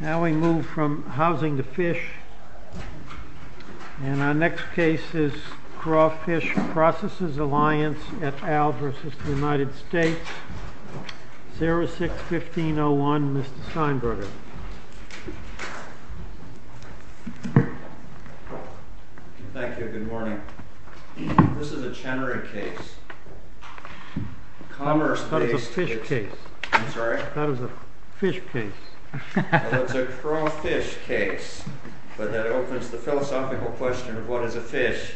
Now we move from housing to fish, and our next case is Crawfish Processors Alliance at Alvarez v. United States, 06-1501, Mr. Steinberger. Thank you, good morning. This is a Chenery case. That is a fish case. I'm sorry? That is a fish case. It's a crawfish case, but that opens the philosophical question of what is a fish.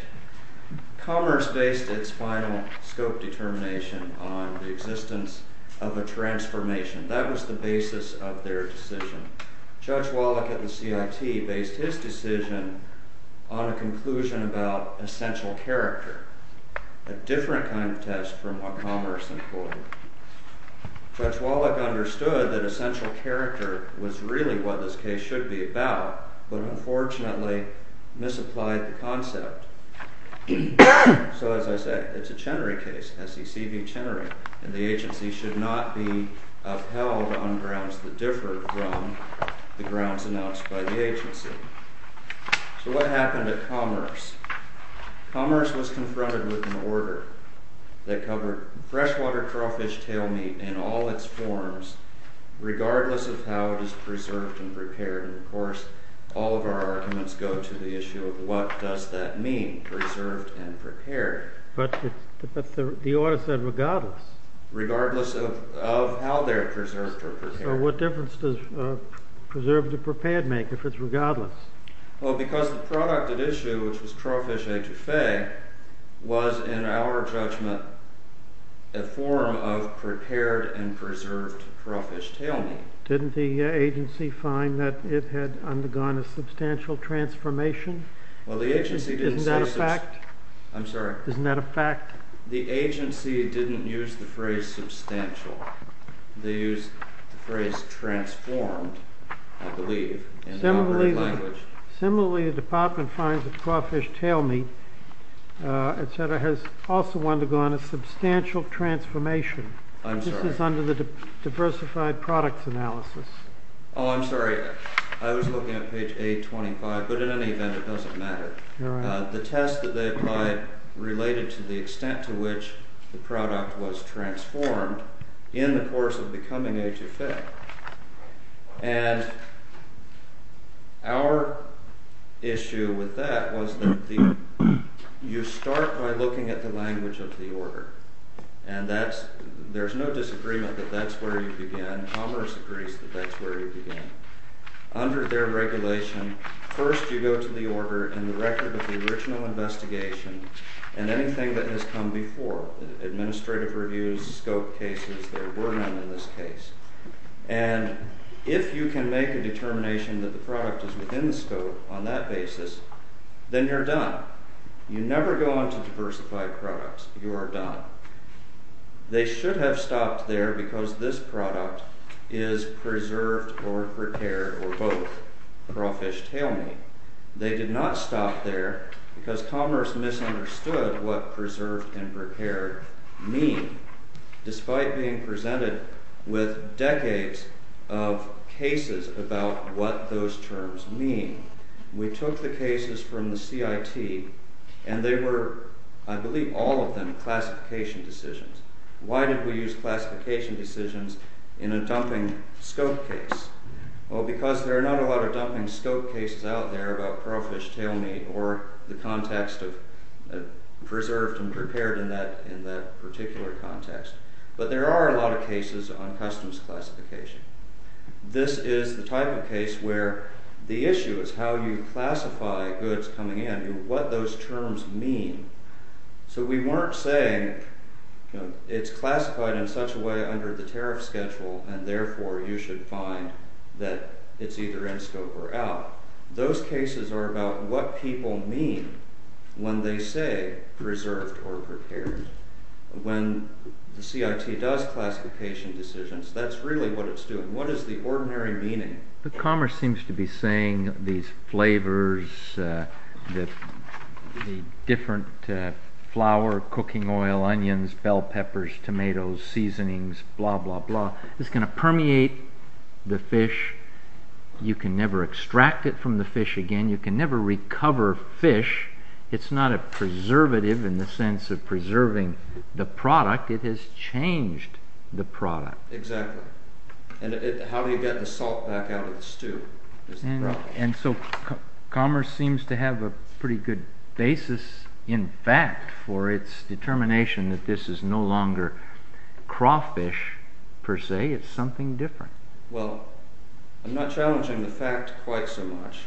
Commerce based its final scope determination on the existence of a transformation. That was the basis of their decision. Judge Wallach at the CIT based his decision on a conclusion about essential character, a different kind of test from what Commerce employed. Judge Wallach understood that essential character was really what this case should be about, but unfortunately misapplied the concept. So as I said, it's a Chenery case, SEC v. Chenery, and the agency should not be upheld on grounds that differ from the grounds announced by the agency. So what happened to Commerce? Commerce was confronted with an order that covered freshwater crawfish tail meat in all its forms, regardless of how it is preserved and prepared. Of course, all of our arguments go to the issue of what does that mean, preserved and prepared? But the order said regardless. Regardless of how they're preserved or prepared. So what difference does preserved or prepared make if it's regardless? Well, because the product at issue, which was crawfish etouffee, was in our judgment a form of prepared and preserved crawfish tail meat. Didn't the agency find that it had undergone a substantial transformation? Isn't that a fact? I'm sorry. Isn't that a fact? The agency didn't use the phrase substantial. They used the phrase transformed, I believe, in the operative language. Similarly, the department finds that crawfish tail meat, et cetera, has also undergone a substantial transformation. I'm sorry. This is under the diversified product analysis. Oh, I'm sorry. I was looking at page 825, but in any event, it doesn't matter. The test that they applied related to the extent to which the product was transformed in the course of becoming etouffee. And our issue with that was that you start by looking at the language of the order. And there's no disagreement that that's where you begin. Commerce agrees that that's where you begin. Under their regulation, first you go to the order and the record of the original investigation and anything that has come before, administrative reviews, scope cases, there were none in this case. And if you can make a determination that the product is within the scope on that basis, then you're done. You never go on to diversified products. You are done. They should have stopped there because this product is preserved or prepared or both, crawfish tail meat. They did not stop there because commerce misunderstood what preserved and prepared mean, despite being presented with decades of cases about what those terms mean. We took the cases from the CIT and they were, I believe, all of them classification decisions. Why did we use classification decisions in a dumping scope case? Well, because there are not a lot of dumping scope cases out there about crawfish tail meat or the context of preserved and prepared in that particular context. But there are a lot of cases on customs classification. This is the type of case where the issue is how you classify goods coming in, what those terms mean. So we weren't saying it's classified in such a way under the tariff schedule and therefore you should find that it's either in scope or out. Those cases are about what people mean when they say preserved or prepared. When the CIT does classification decisions, that's really what it's doing. What is the ordinary meaning? Commerce seems to be saying these flavors, the different flour, cooking oil, onions, bell peppers, tomatoes, seasonings, blah, blah, blah. It's going to permeate the fish. You can never extract it from the fish again. You can never recover fish. It's not a preservative in the sense of preserving the product. It has changed the product. Exactly. And how do you get the salt back out of the stew? And so commerce seems to have a pretty good basis, in fact, for its determination that this is no longer crawfish, per se. It's something different. Well, I'm not challenging the fact quite so much.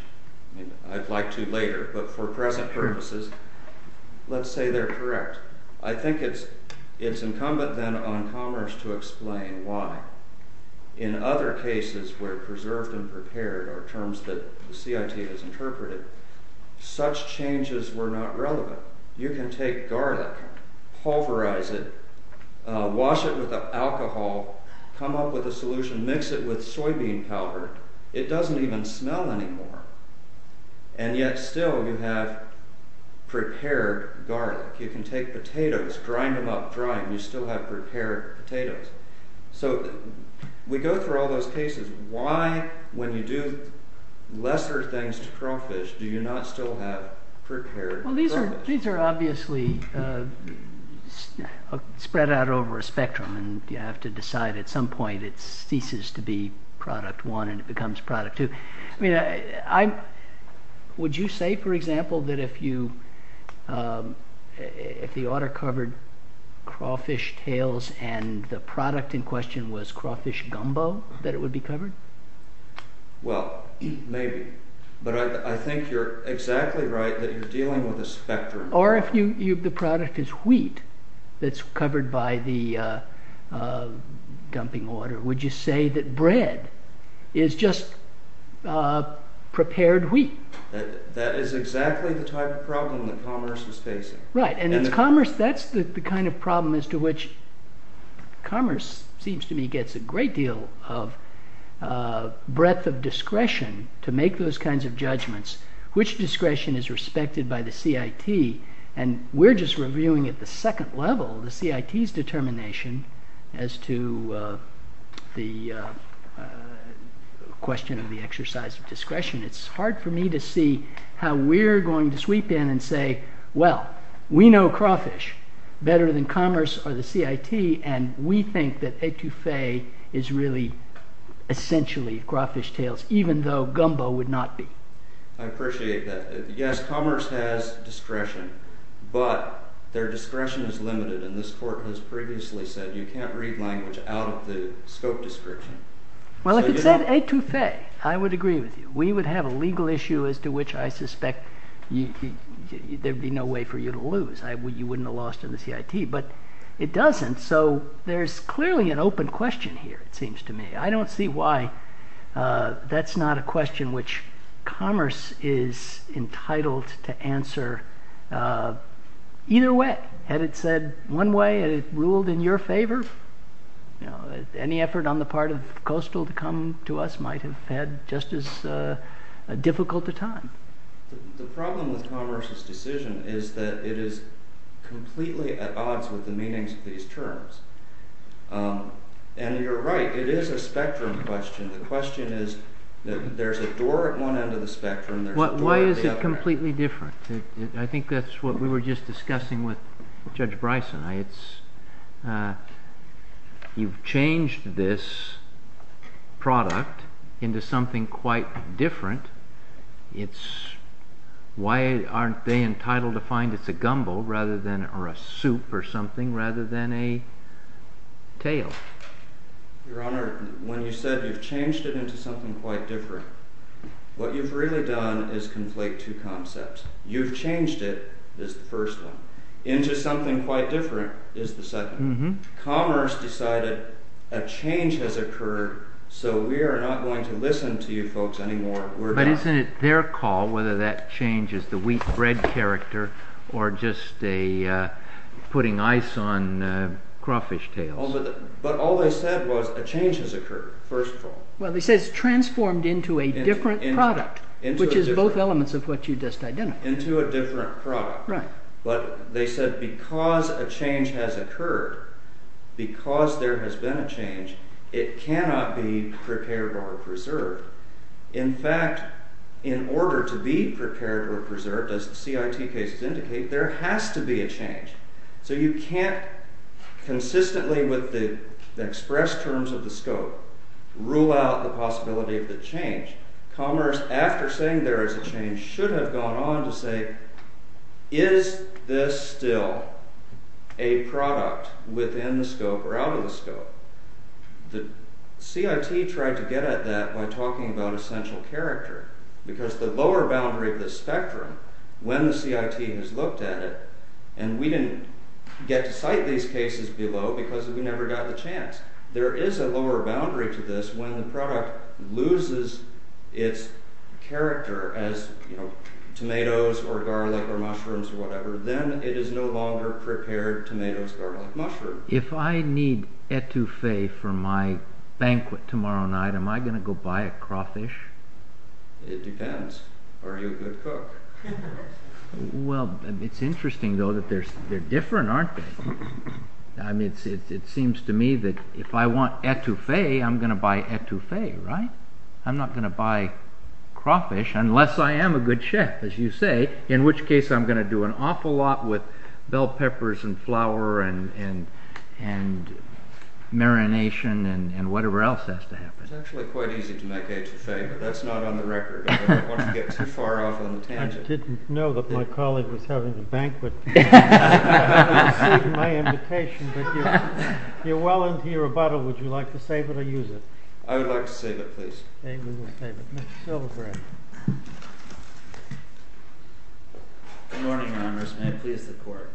I'd like to later, but for present purposes, let's say they're correct. I think it's incumbent then on commerce to explain why. In other cases where preserved and prepared are terms that the CIT has interpreted, such changes were not relevant. You can take garlic, pulverize it, wash it with alcohol, come up with a solution, mix it with soybean powder. It doesn't even smell anymore, and yet still you have prepared garlic. You can take potatoes, grind them up, dry them. You still have prepared potatoes. So we go through all those cases. Why, when you do lesser things to crawfish, do you not still have prepared crawfish? Well, these are obviously spread out over a spectrum, and you have to decide at some point it ceases to be product one and it becomes product two. Would you say, for example, that if the order covered crawfish tails and the product in question was crawfish gumbo, that it would be covered? Well, maybe, but I think you're exactly right that you're dealing with a spectrum. Or if the product is wheat that's covered by the dumping order, would you say that bread is just prepared wheat? That is exactly the type of problem that commerce was facing. Right, and commerce, that's the kind of problem as to which commerce seems to me gets a great deal of breadth of discretion to make those kinds of judgments. Which discretion is respected by the CIT? And we're just reviewing at the second level the CIT's determination as to the question of the exercise of discretion. It's hard for me to see how we're going to sweep in and say, well, we know crawfish better than commerce or the CIT, and we think that etouffee is really essentially crawfish tails, even though gumbo would not be. I appreciate that. Yes, commerce has discretion, but their discretion is limited, and this court has previously said you can't read language out of the scope description. Well, if it said etouffee, I would agree with you. We would have a legal issue as to which I suspect there'd be no way for you to lose. You wouldn't have lost in the CIT, but it doesn't. So there's clearly an open question here, it seems to me. I don't see why that's not a question which commerce is entitled to answer either way. Had it said one way, had it ruled in your favor? Any effort on the part of coastal to come to us might have had just as difficult a time. The problem with commerce's decision is that it is completely at odds with the meanings of these terms. And you're right, it is a spectrum question. The question is that there's a door at one end of the spectrum, there's a door at the other end. Why is it completely different? I think that's what we were just discussing with Judge Bryson. You've changed this product into something quite different. Why aren't they entitled to find it's a gumbo or a soup or something rather than a tail? Your Honor, when you said you've changed it into something quite different, what you've really done is conflate two concepts. You've changed it is the first one. Into something quite different is the second one. Commerce decided a change has occurred, so we are not going to listen to you folks anymore. But isn't it their call whether that change is the wheat bread character or just putting ice on crawfish tails? But all they said was a change has occurred, first of all. Well they said it's transformed into a different product, which is both elements of what you just identified. Into a different product. But they said because a change has occurred, because there has been a change, it cannot be prepared or preserved. In fact, in order to be prepared or preserved, as the CIT cases indicate, there has to be a change. So you can't consistently with the express terms of the scope, rule out the possibility of the change. Commerce, after saying there is a change, should have gone on to say, is this still a product within the scope or out of the scope? The CIT tried to get at that by talking about essential character, because the lower boundary of the spectrum, when the CIT has looked at it, and we didn't get to cite these cases below because we never got the chance, there is a lower boundary to this when the product loses its character as tomatoes or garlic or mushrooms or whatever, If I need etouffee for my banquet tomorrow night, am I going to go buy a crawfish? It depends. Are you a good cook? Well, it's interesting though that they're different, aren't they? It seems to me that if I want etouffee, I'm going to buy etouffee, right? I'm not going to buy crawfish unless I am a good chef, as you say, in which case I'm going to do an awful lot with bell peppers and flour and marination and whatever else has to happen. It's actually quite easy to make etouffee, but that's not on the record. I don't want to get too far off on the tangent. I didn't know that my colleague was having a banquet. You're well into your rebuttal, would you like to save it or use it? I would like to save it, please. Okay, we will save it. Mr. Silverberg. Good morning, Your Honors. May I please the court?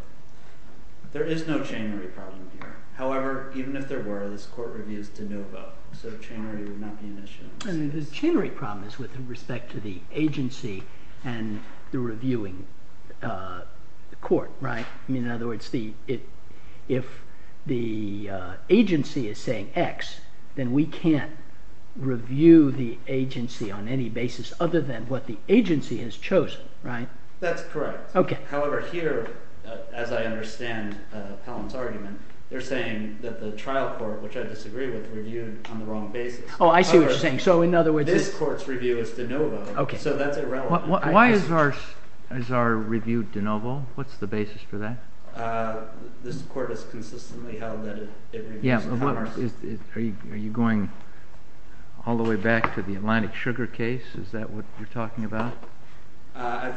There is no chain rate problem here. However, even if there were, this court reviews de novo, so chain rate would not be an issue. The chain rate problem is with respect to the agency and the reviewing court, right? In other words, if the agency is saying X, then we can't review the agency on any basis other than what the agency has chosen, right? That's correct. However, here, as I understand Helen's argument, they're saying that the trial court, which I disagree with, reviewed on the wrong basis. Oh, I see what you're saying. This court's review is de novo, so that's irrelevant. Why is our review de novo? What's the basis for that? This court has consistently held that it reviews de novo. Are you going all the way back to the Atlantic Sugar case? Is that what you're talking about? I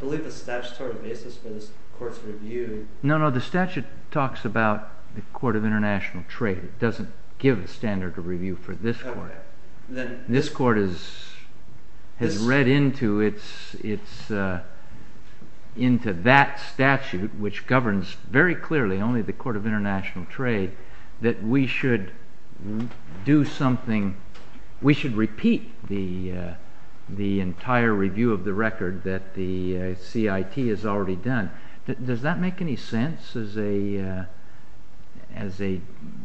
believe the statutory basis for this court's review... No, no, the statute talks about the Court of International Trade. It doesn't give a standard of review for this court. This court has read into that statute, which governs very clearly only the Court of International Trade, that we should do something, we should repeat the entire review of the record that the CIT has already done. Does that make any sense as a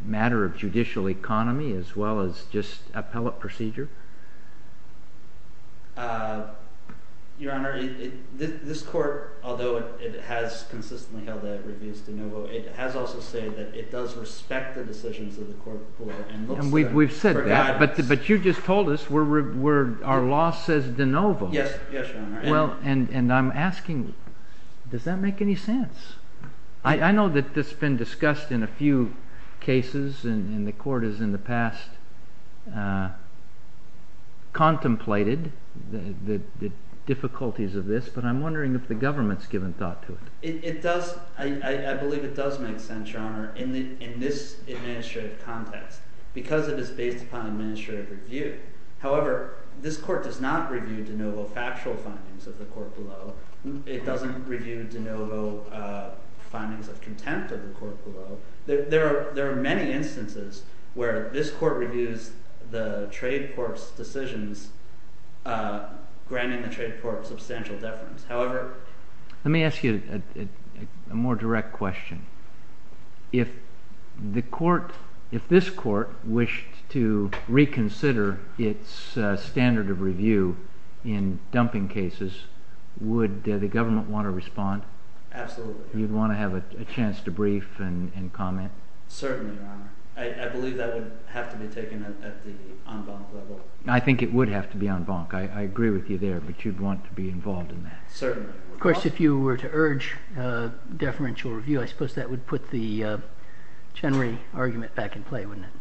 matter of judicial economy as well as just appellate procedure? Your Honor, this court, although it has consistently held that it reviews de novo, it has also said that it does respect the decisions of the court before and looks to them for guidance. We've said that, but you just told us our law says de novo. Yes, Your Honor. And I'm asking, does that make any sense? I know that this has been discussed in a few cases, and the court has in the past contemplated the difficulties of this, but I'm wondering if the government has given thought to it. I believe it does make sense, Your Honor, in this administrative context, because it is based upon administrative review. However, this court does not review de novo factual findings of the court below. It doesn't review de novo findings of contempt of the court below. There are many instances where this court reviews the trade court's decisions, granting the trade court substantial deference. However, let me ask you a more direct question. If this court wished to reconsider its standard of review in dumping cases, would the government want to respond? Absolutely. You'd want to have a chance to brief and comment? Certainly, Your Honor. I believe that would have to be taken at the en banc level. I think it would have to be en banc. I agree with you there, but you'd want to be involved in that. Certainly. Of course, if you were to urge deferential review, I suppose that would put the Chenry argument back in play, wouldn't it?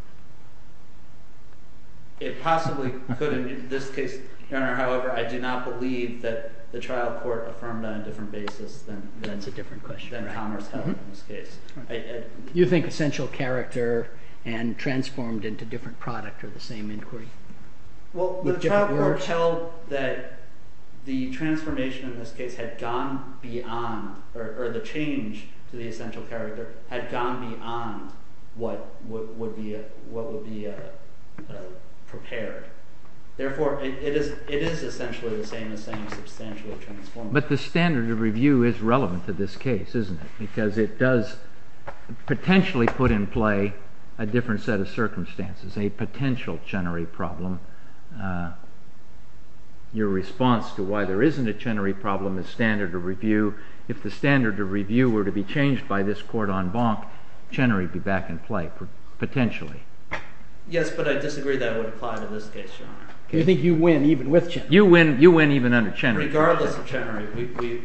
It possibly could. In this case, Your Honor, however, I do not believe that the trial court affirmed on a different basis than commerce held in this case. You think essential character and transformed into different product are the same inquiry? Well, the trial court held that the transformation in this case had gone beyond or the change to the essential character had gone beyond what would be prepared. Therefore, it is essentially the same substantial transformation. But the standard of review is relevant to this case, isn't it? Because it does potentially put in play a different set of circumstances, a potential Chenry problem. Your response to why there isn't a Chenry problem is standard of review. If the standard of review were to be changed by this court en banc, Chenry would be back in play, potentially. Yes, but I disagree that it would apply to this case, Your Honor. You think you win even with Chenry? You win even under Chenry. Regardless of Chenry,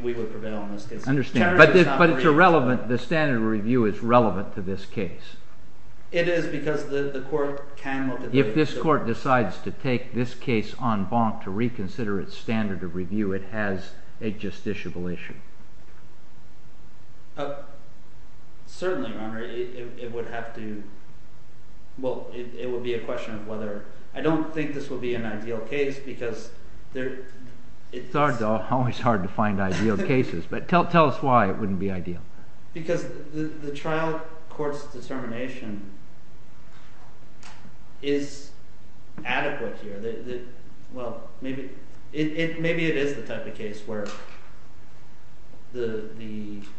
we would prevail in this case. But the standard of review is relevant to this case. It is because the court can look at it. If this court decides to take this case en banc to reconsider its standard of review, it has a justiciable issue. Certainly, Your Honor, it would be a question of whether... I don't think this would be an ideal case because... It's always hard to find ideal cases. But tell us why it wouldn't be ideal. Because the trial court's determination is adequate here. Well, maybe it is the type of case where the...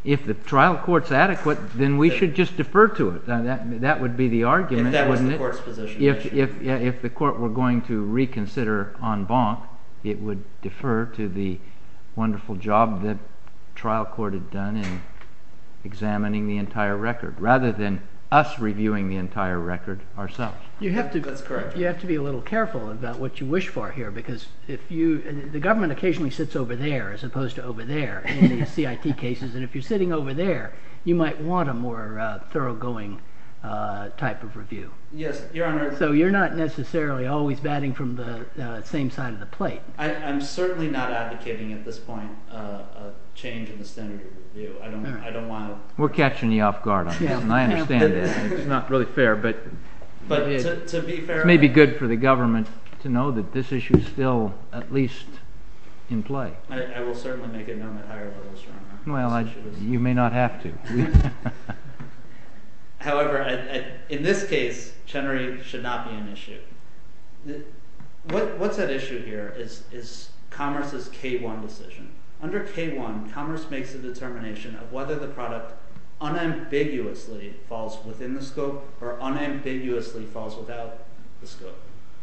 If the trial court's adequate, then we should just defer to it. That would be the argument. If that was the court's position. If the court were going to reconsider en banc, it would defer to the wonderful job the trial court had done in examining the entire record rather than us reviewing the entire record ourselves. That's correct. You have to be a little careful about what you wish for here. Because the government occasionally sits over there as opposed to over there in the CIT cases. And if you're sitting over there, you might want a more thoroughgoing type of review. Yes, Your Honor. So you're not necessarily always batting from the same side of the plate. I'm certainly not advocating at this point a change in the standard of review. I don't want to... We're catching you off guard on this. And I understand that. It's not really fair. But to be fair... It may be good for the government to know that this issue is still at least in play. I will certainly make a note at a higher level, Your Honor. Well, you may not have to. However, in this case, Chenery should not be an issue. What's at issue here is Commerce's K-1 decision. Under K-1, Commerce makes a determination of whether the product unambiguously falls within the scope or unambiguously falls without the scope.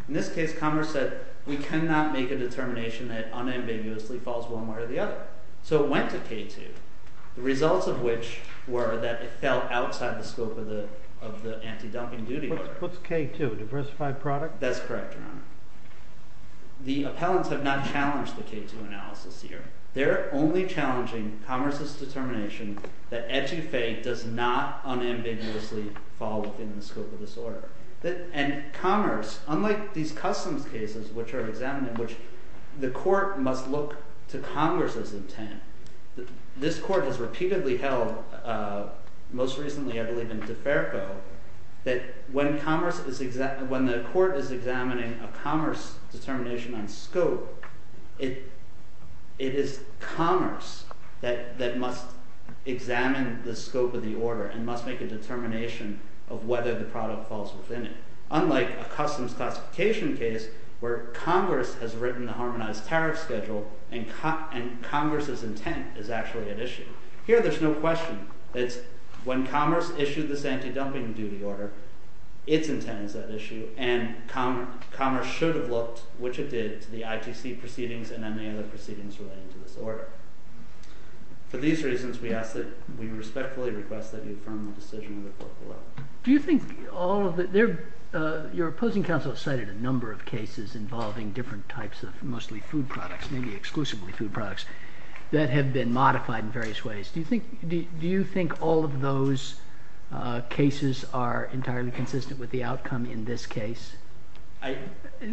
In this case, Commerce said we cannot make a determination that unambiguously falls one way or the other. So it went to K-2, the results of which were that it fell outside the scope of the anti-dumping duty order. What's K-2, diversified product? That's correct, Your Honor. The appellants have not challenged the K-2 analysis here. They're only challenging Commerce's determination that Etufei does not unambiguously fall within the scope of this order. And Commerce, unlike these customs cases which are examined in which the court must look to Congress's intent, this court has repeatedly held, most recently I believe in DeFerco, that when the court is examining a Commerce determination on scope, it is Commerce that must examine the scope of the order and must make a determination of whether the product falls within it. Unlike a customs classification case where Congress has written the harmonized tariff schedule and Congress's intent is actually at issue. Here there's no question. It's when Commerce issued this anti-dumping duty order, its intent is at issue, and Commerce should have looked, which it did, to the ITC proceedings and any other proceedings relating to this order. For these reasons, we respectfully request that you affirm the decision of the court below. Do you think all of the – your opposing counsel has cited a number of cases involving different types of mostly food products, maybe exclusively food products, that have been modified in various ways. Do you think all of those cases are entirely consistent with the outcome in this case?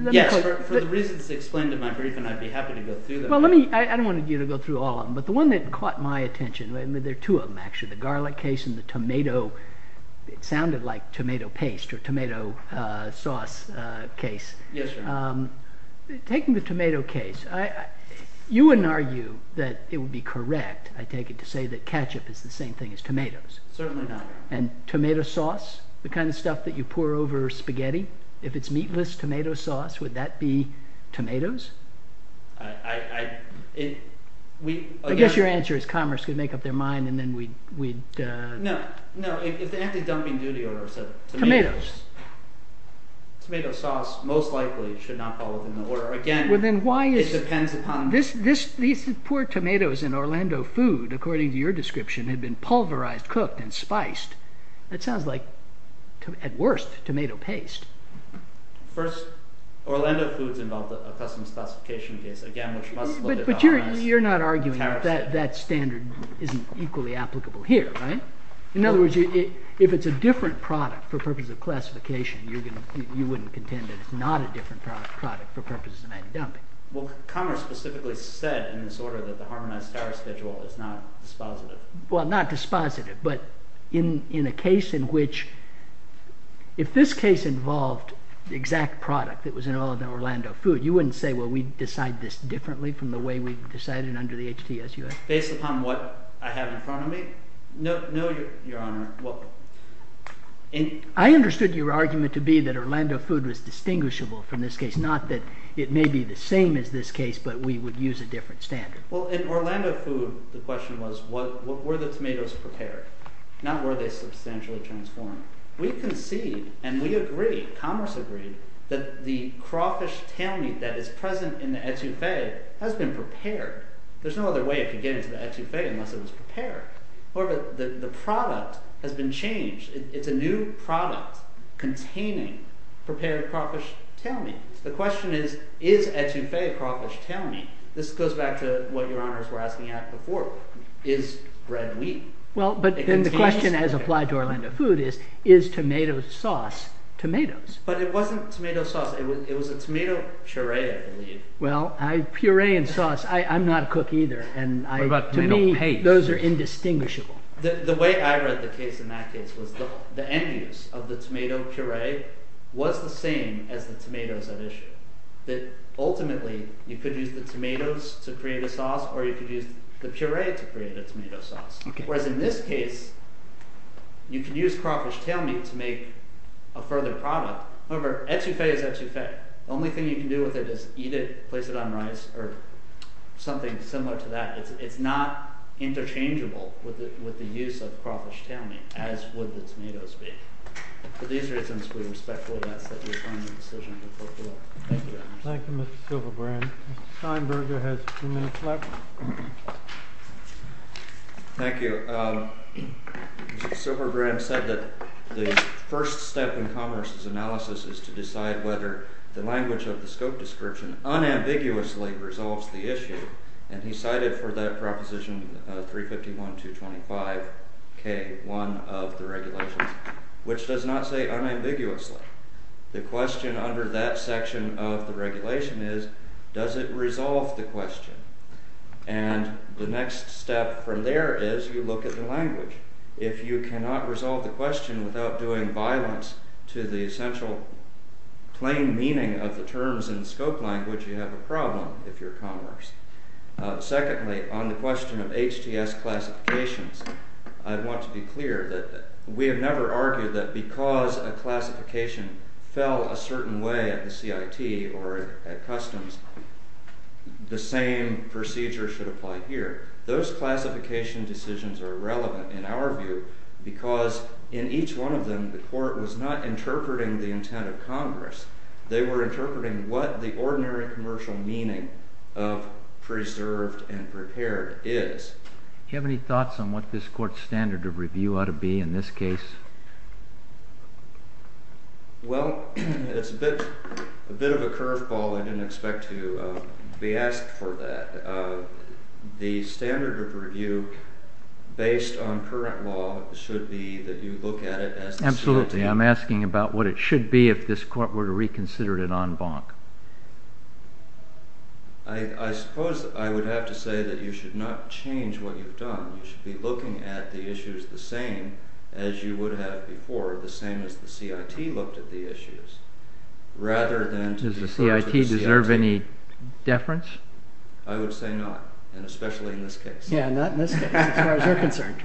Yes, for the reasons explained in my brief, and I'd be happy to go through them. Well, let me – I don't want you to go through all of them, but the one that caught my attention, there are two of them actually, the garlic case and the tomato – it sounded like tomato paste or tomato sauce case. Yes, sir. Taking the tomato case, you wouldn't argue that it would be correct, I take it, to say that ketchup is the same thing as tomatoes. Certainly not. And tomato sauce, the kind of stuff that you pour over spaghetti, if it's meatless tomato sauce, would that be tomatoes? I – it – we – I guess your answer is Commerce could make up their mind and then we'd – No, no, if the anti-dumping duty order said – Tomatoes. Tomato sauce most likely should not fall within the order. Again, it depends upon – Well, then why is – these poor tomatoes in Orlando food, according to your description, had been pulverized, cooked, and spiced. That sounds like, at worst, tomato paste. First, Orlando foods involved a custom classification case, again, which must look at our – But you're not arguing that that standard isn't equally applicable here, right? In other words, if it's a different product for purposes of classification, you wouldn't contend that it's not a different product for purposes of anti-dumping. Well, Commerce specifically said in this order that the harmonized tariff schedule is not dispositive. Well, not dispositive, but in a case in which – if this case involved the exact product that was in all of the Orlando food, you wouldn't say, well, we decide this differently from the way we decided under the HTSUF? Based upon what I have in front of me? No, Your Honor. I understood your argument to be that Orlando food was distinguishable from this case, not that it may be the same as this case, but we would use a different standard. Well, in Orlando food, the question was, were the tomatoes prepared, not were they substantially transformed. We concede, and we agree, Commerce agreed, that the crawfish tail meat that is present in the HTSUF has been prepared. There's no other way it could get into the HTSUF unless it was prepared. The product has been changed. It's a new product containing prepared crawfish tail meat. The question is, is HTSUF crawfish tail meat? This goes back to what Your Honors were asking at before. Is bread wheat? Well, but then the question as applied to Orlando food is, is tomato sauce tomatoes? But it wasn't tomato sauce. It was a tomato puree, I believe. Well, puree and sauce, I'm not a cook either, and to me those are indistinguishable. The way I read the case in that case was the end use of the tomato puree was the same as the tomatoes at issue. Ultimately, you could use the tomatoes to create a sauce, or you could use the puree to create a tomato sauce. Whereas in this case, you could use crawfish tail meat to make a further product. However, HTSUF is HTSUF. The only thing you can do with it is eat it, place it on rice, or something similar to that. It's not interchangeable with the use of crawfish tail meat, as would the tomatoes be. For these reasons, we respectfully ask that you sign the decision of your portfolio. Thank you, Your Honors. Thank you, Mr. Silverbrand. Mr. Steinberger has a few minutes left. Thank you. Mr. Silverbrand said that the first step in Congress' analysis is to decide whether the language of the scope description unambiguously resolves the issue, and he cited for that proposition 351-225-K, one of the regulations, which does not say unambiguously. The question under that section of the regulation is, does it resolve the question? And the next step from there is you look at the language. If you cannot resolve the question without doing violence to the essential plain meaning of the terms in scope language, you have a problem, if you're Congress. Secondly, on the question of HTS classifications, I want to be clear that we have never argued that because a classification fell a certain way at the CIT or at Customs, the same procedure should apply here. Those classification decisions are irrelevant in our view because in each one of them, the Court was not interpreting the intent of Congress. They were interpreting what the ordinary commercial meaning of preserved and prepared is. Do you have any thoughts on what this Court's standard of review ought to be in this case? Well, it's a bit of a curveball. I didn't expect to be asked for that. The standard of review based on current law should be that you look at it as the CIT. Absolutely. I'm asking about what it should be if this Court were to reconsider it en banc. I suppose I would have to say that you should not change what you've done. You should be looking at the issues the same as you would have before, the same as the CIT looked at the issues, rather than to defer to the CIT. Does the CIT deserve any deference? I would say not, and especially in this case. Yeah, not in this case, as far as we're concerned.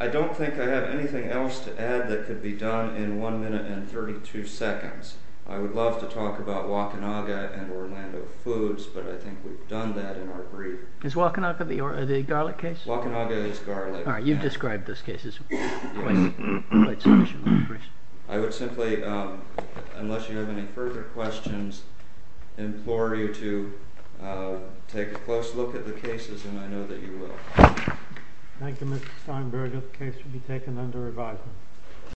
I don't think I have anything else to add that could be done in one minute and 32 seconds. I would love to talk about Wakanaga and Orlando Foods, but I think we've done that in our brief. Is Wakanaga the garlic case? Wakanaga is garlic. All right, you've described this case as quite sufficiently brief. I would simply, unless you have any further questions, implore you to take a close look at the cases, and I know that you will. Thank you, Mr. Steinberg. This case will be taken under review.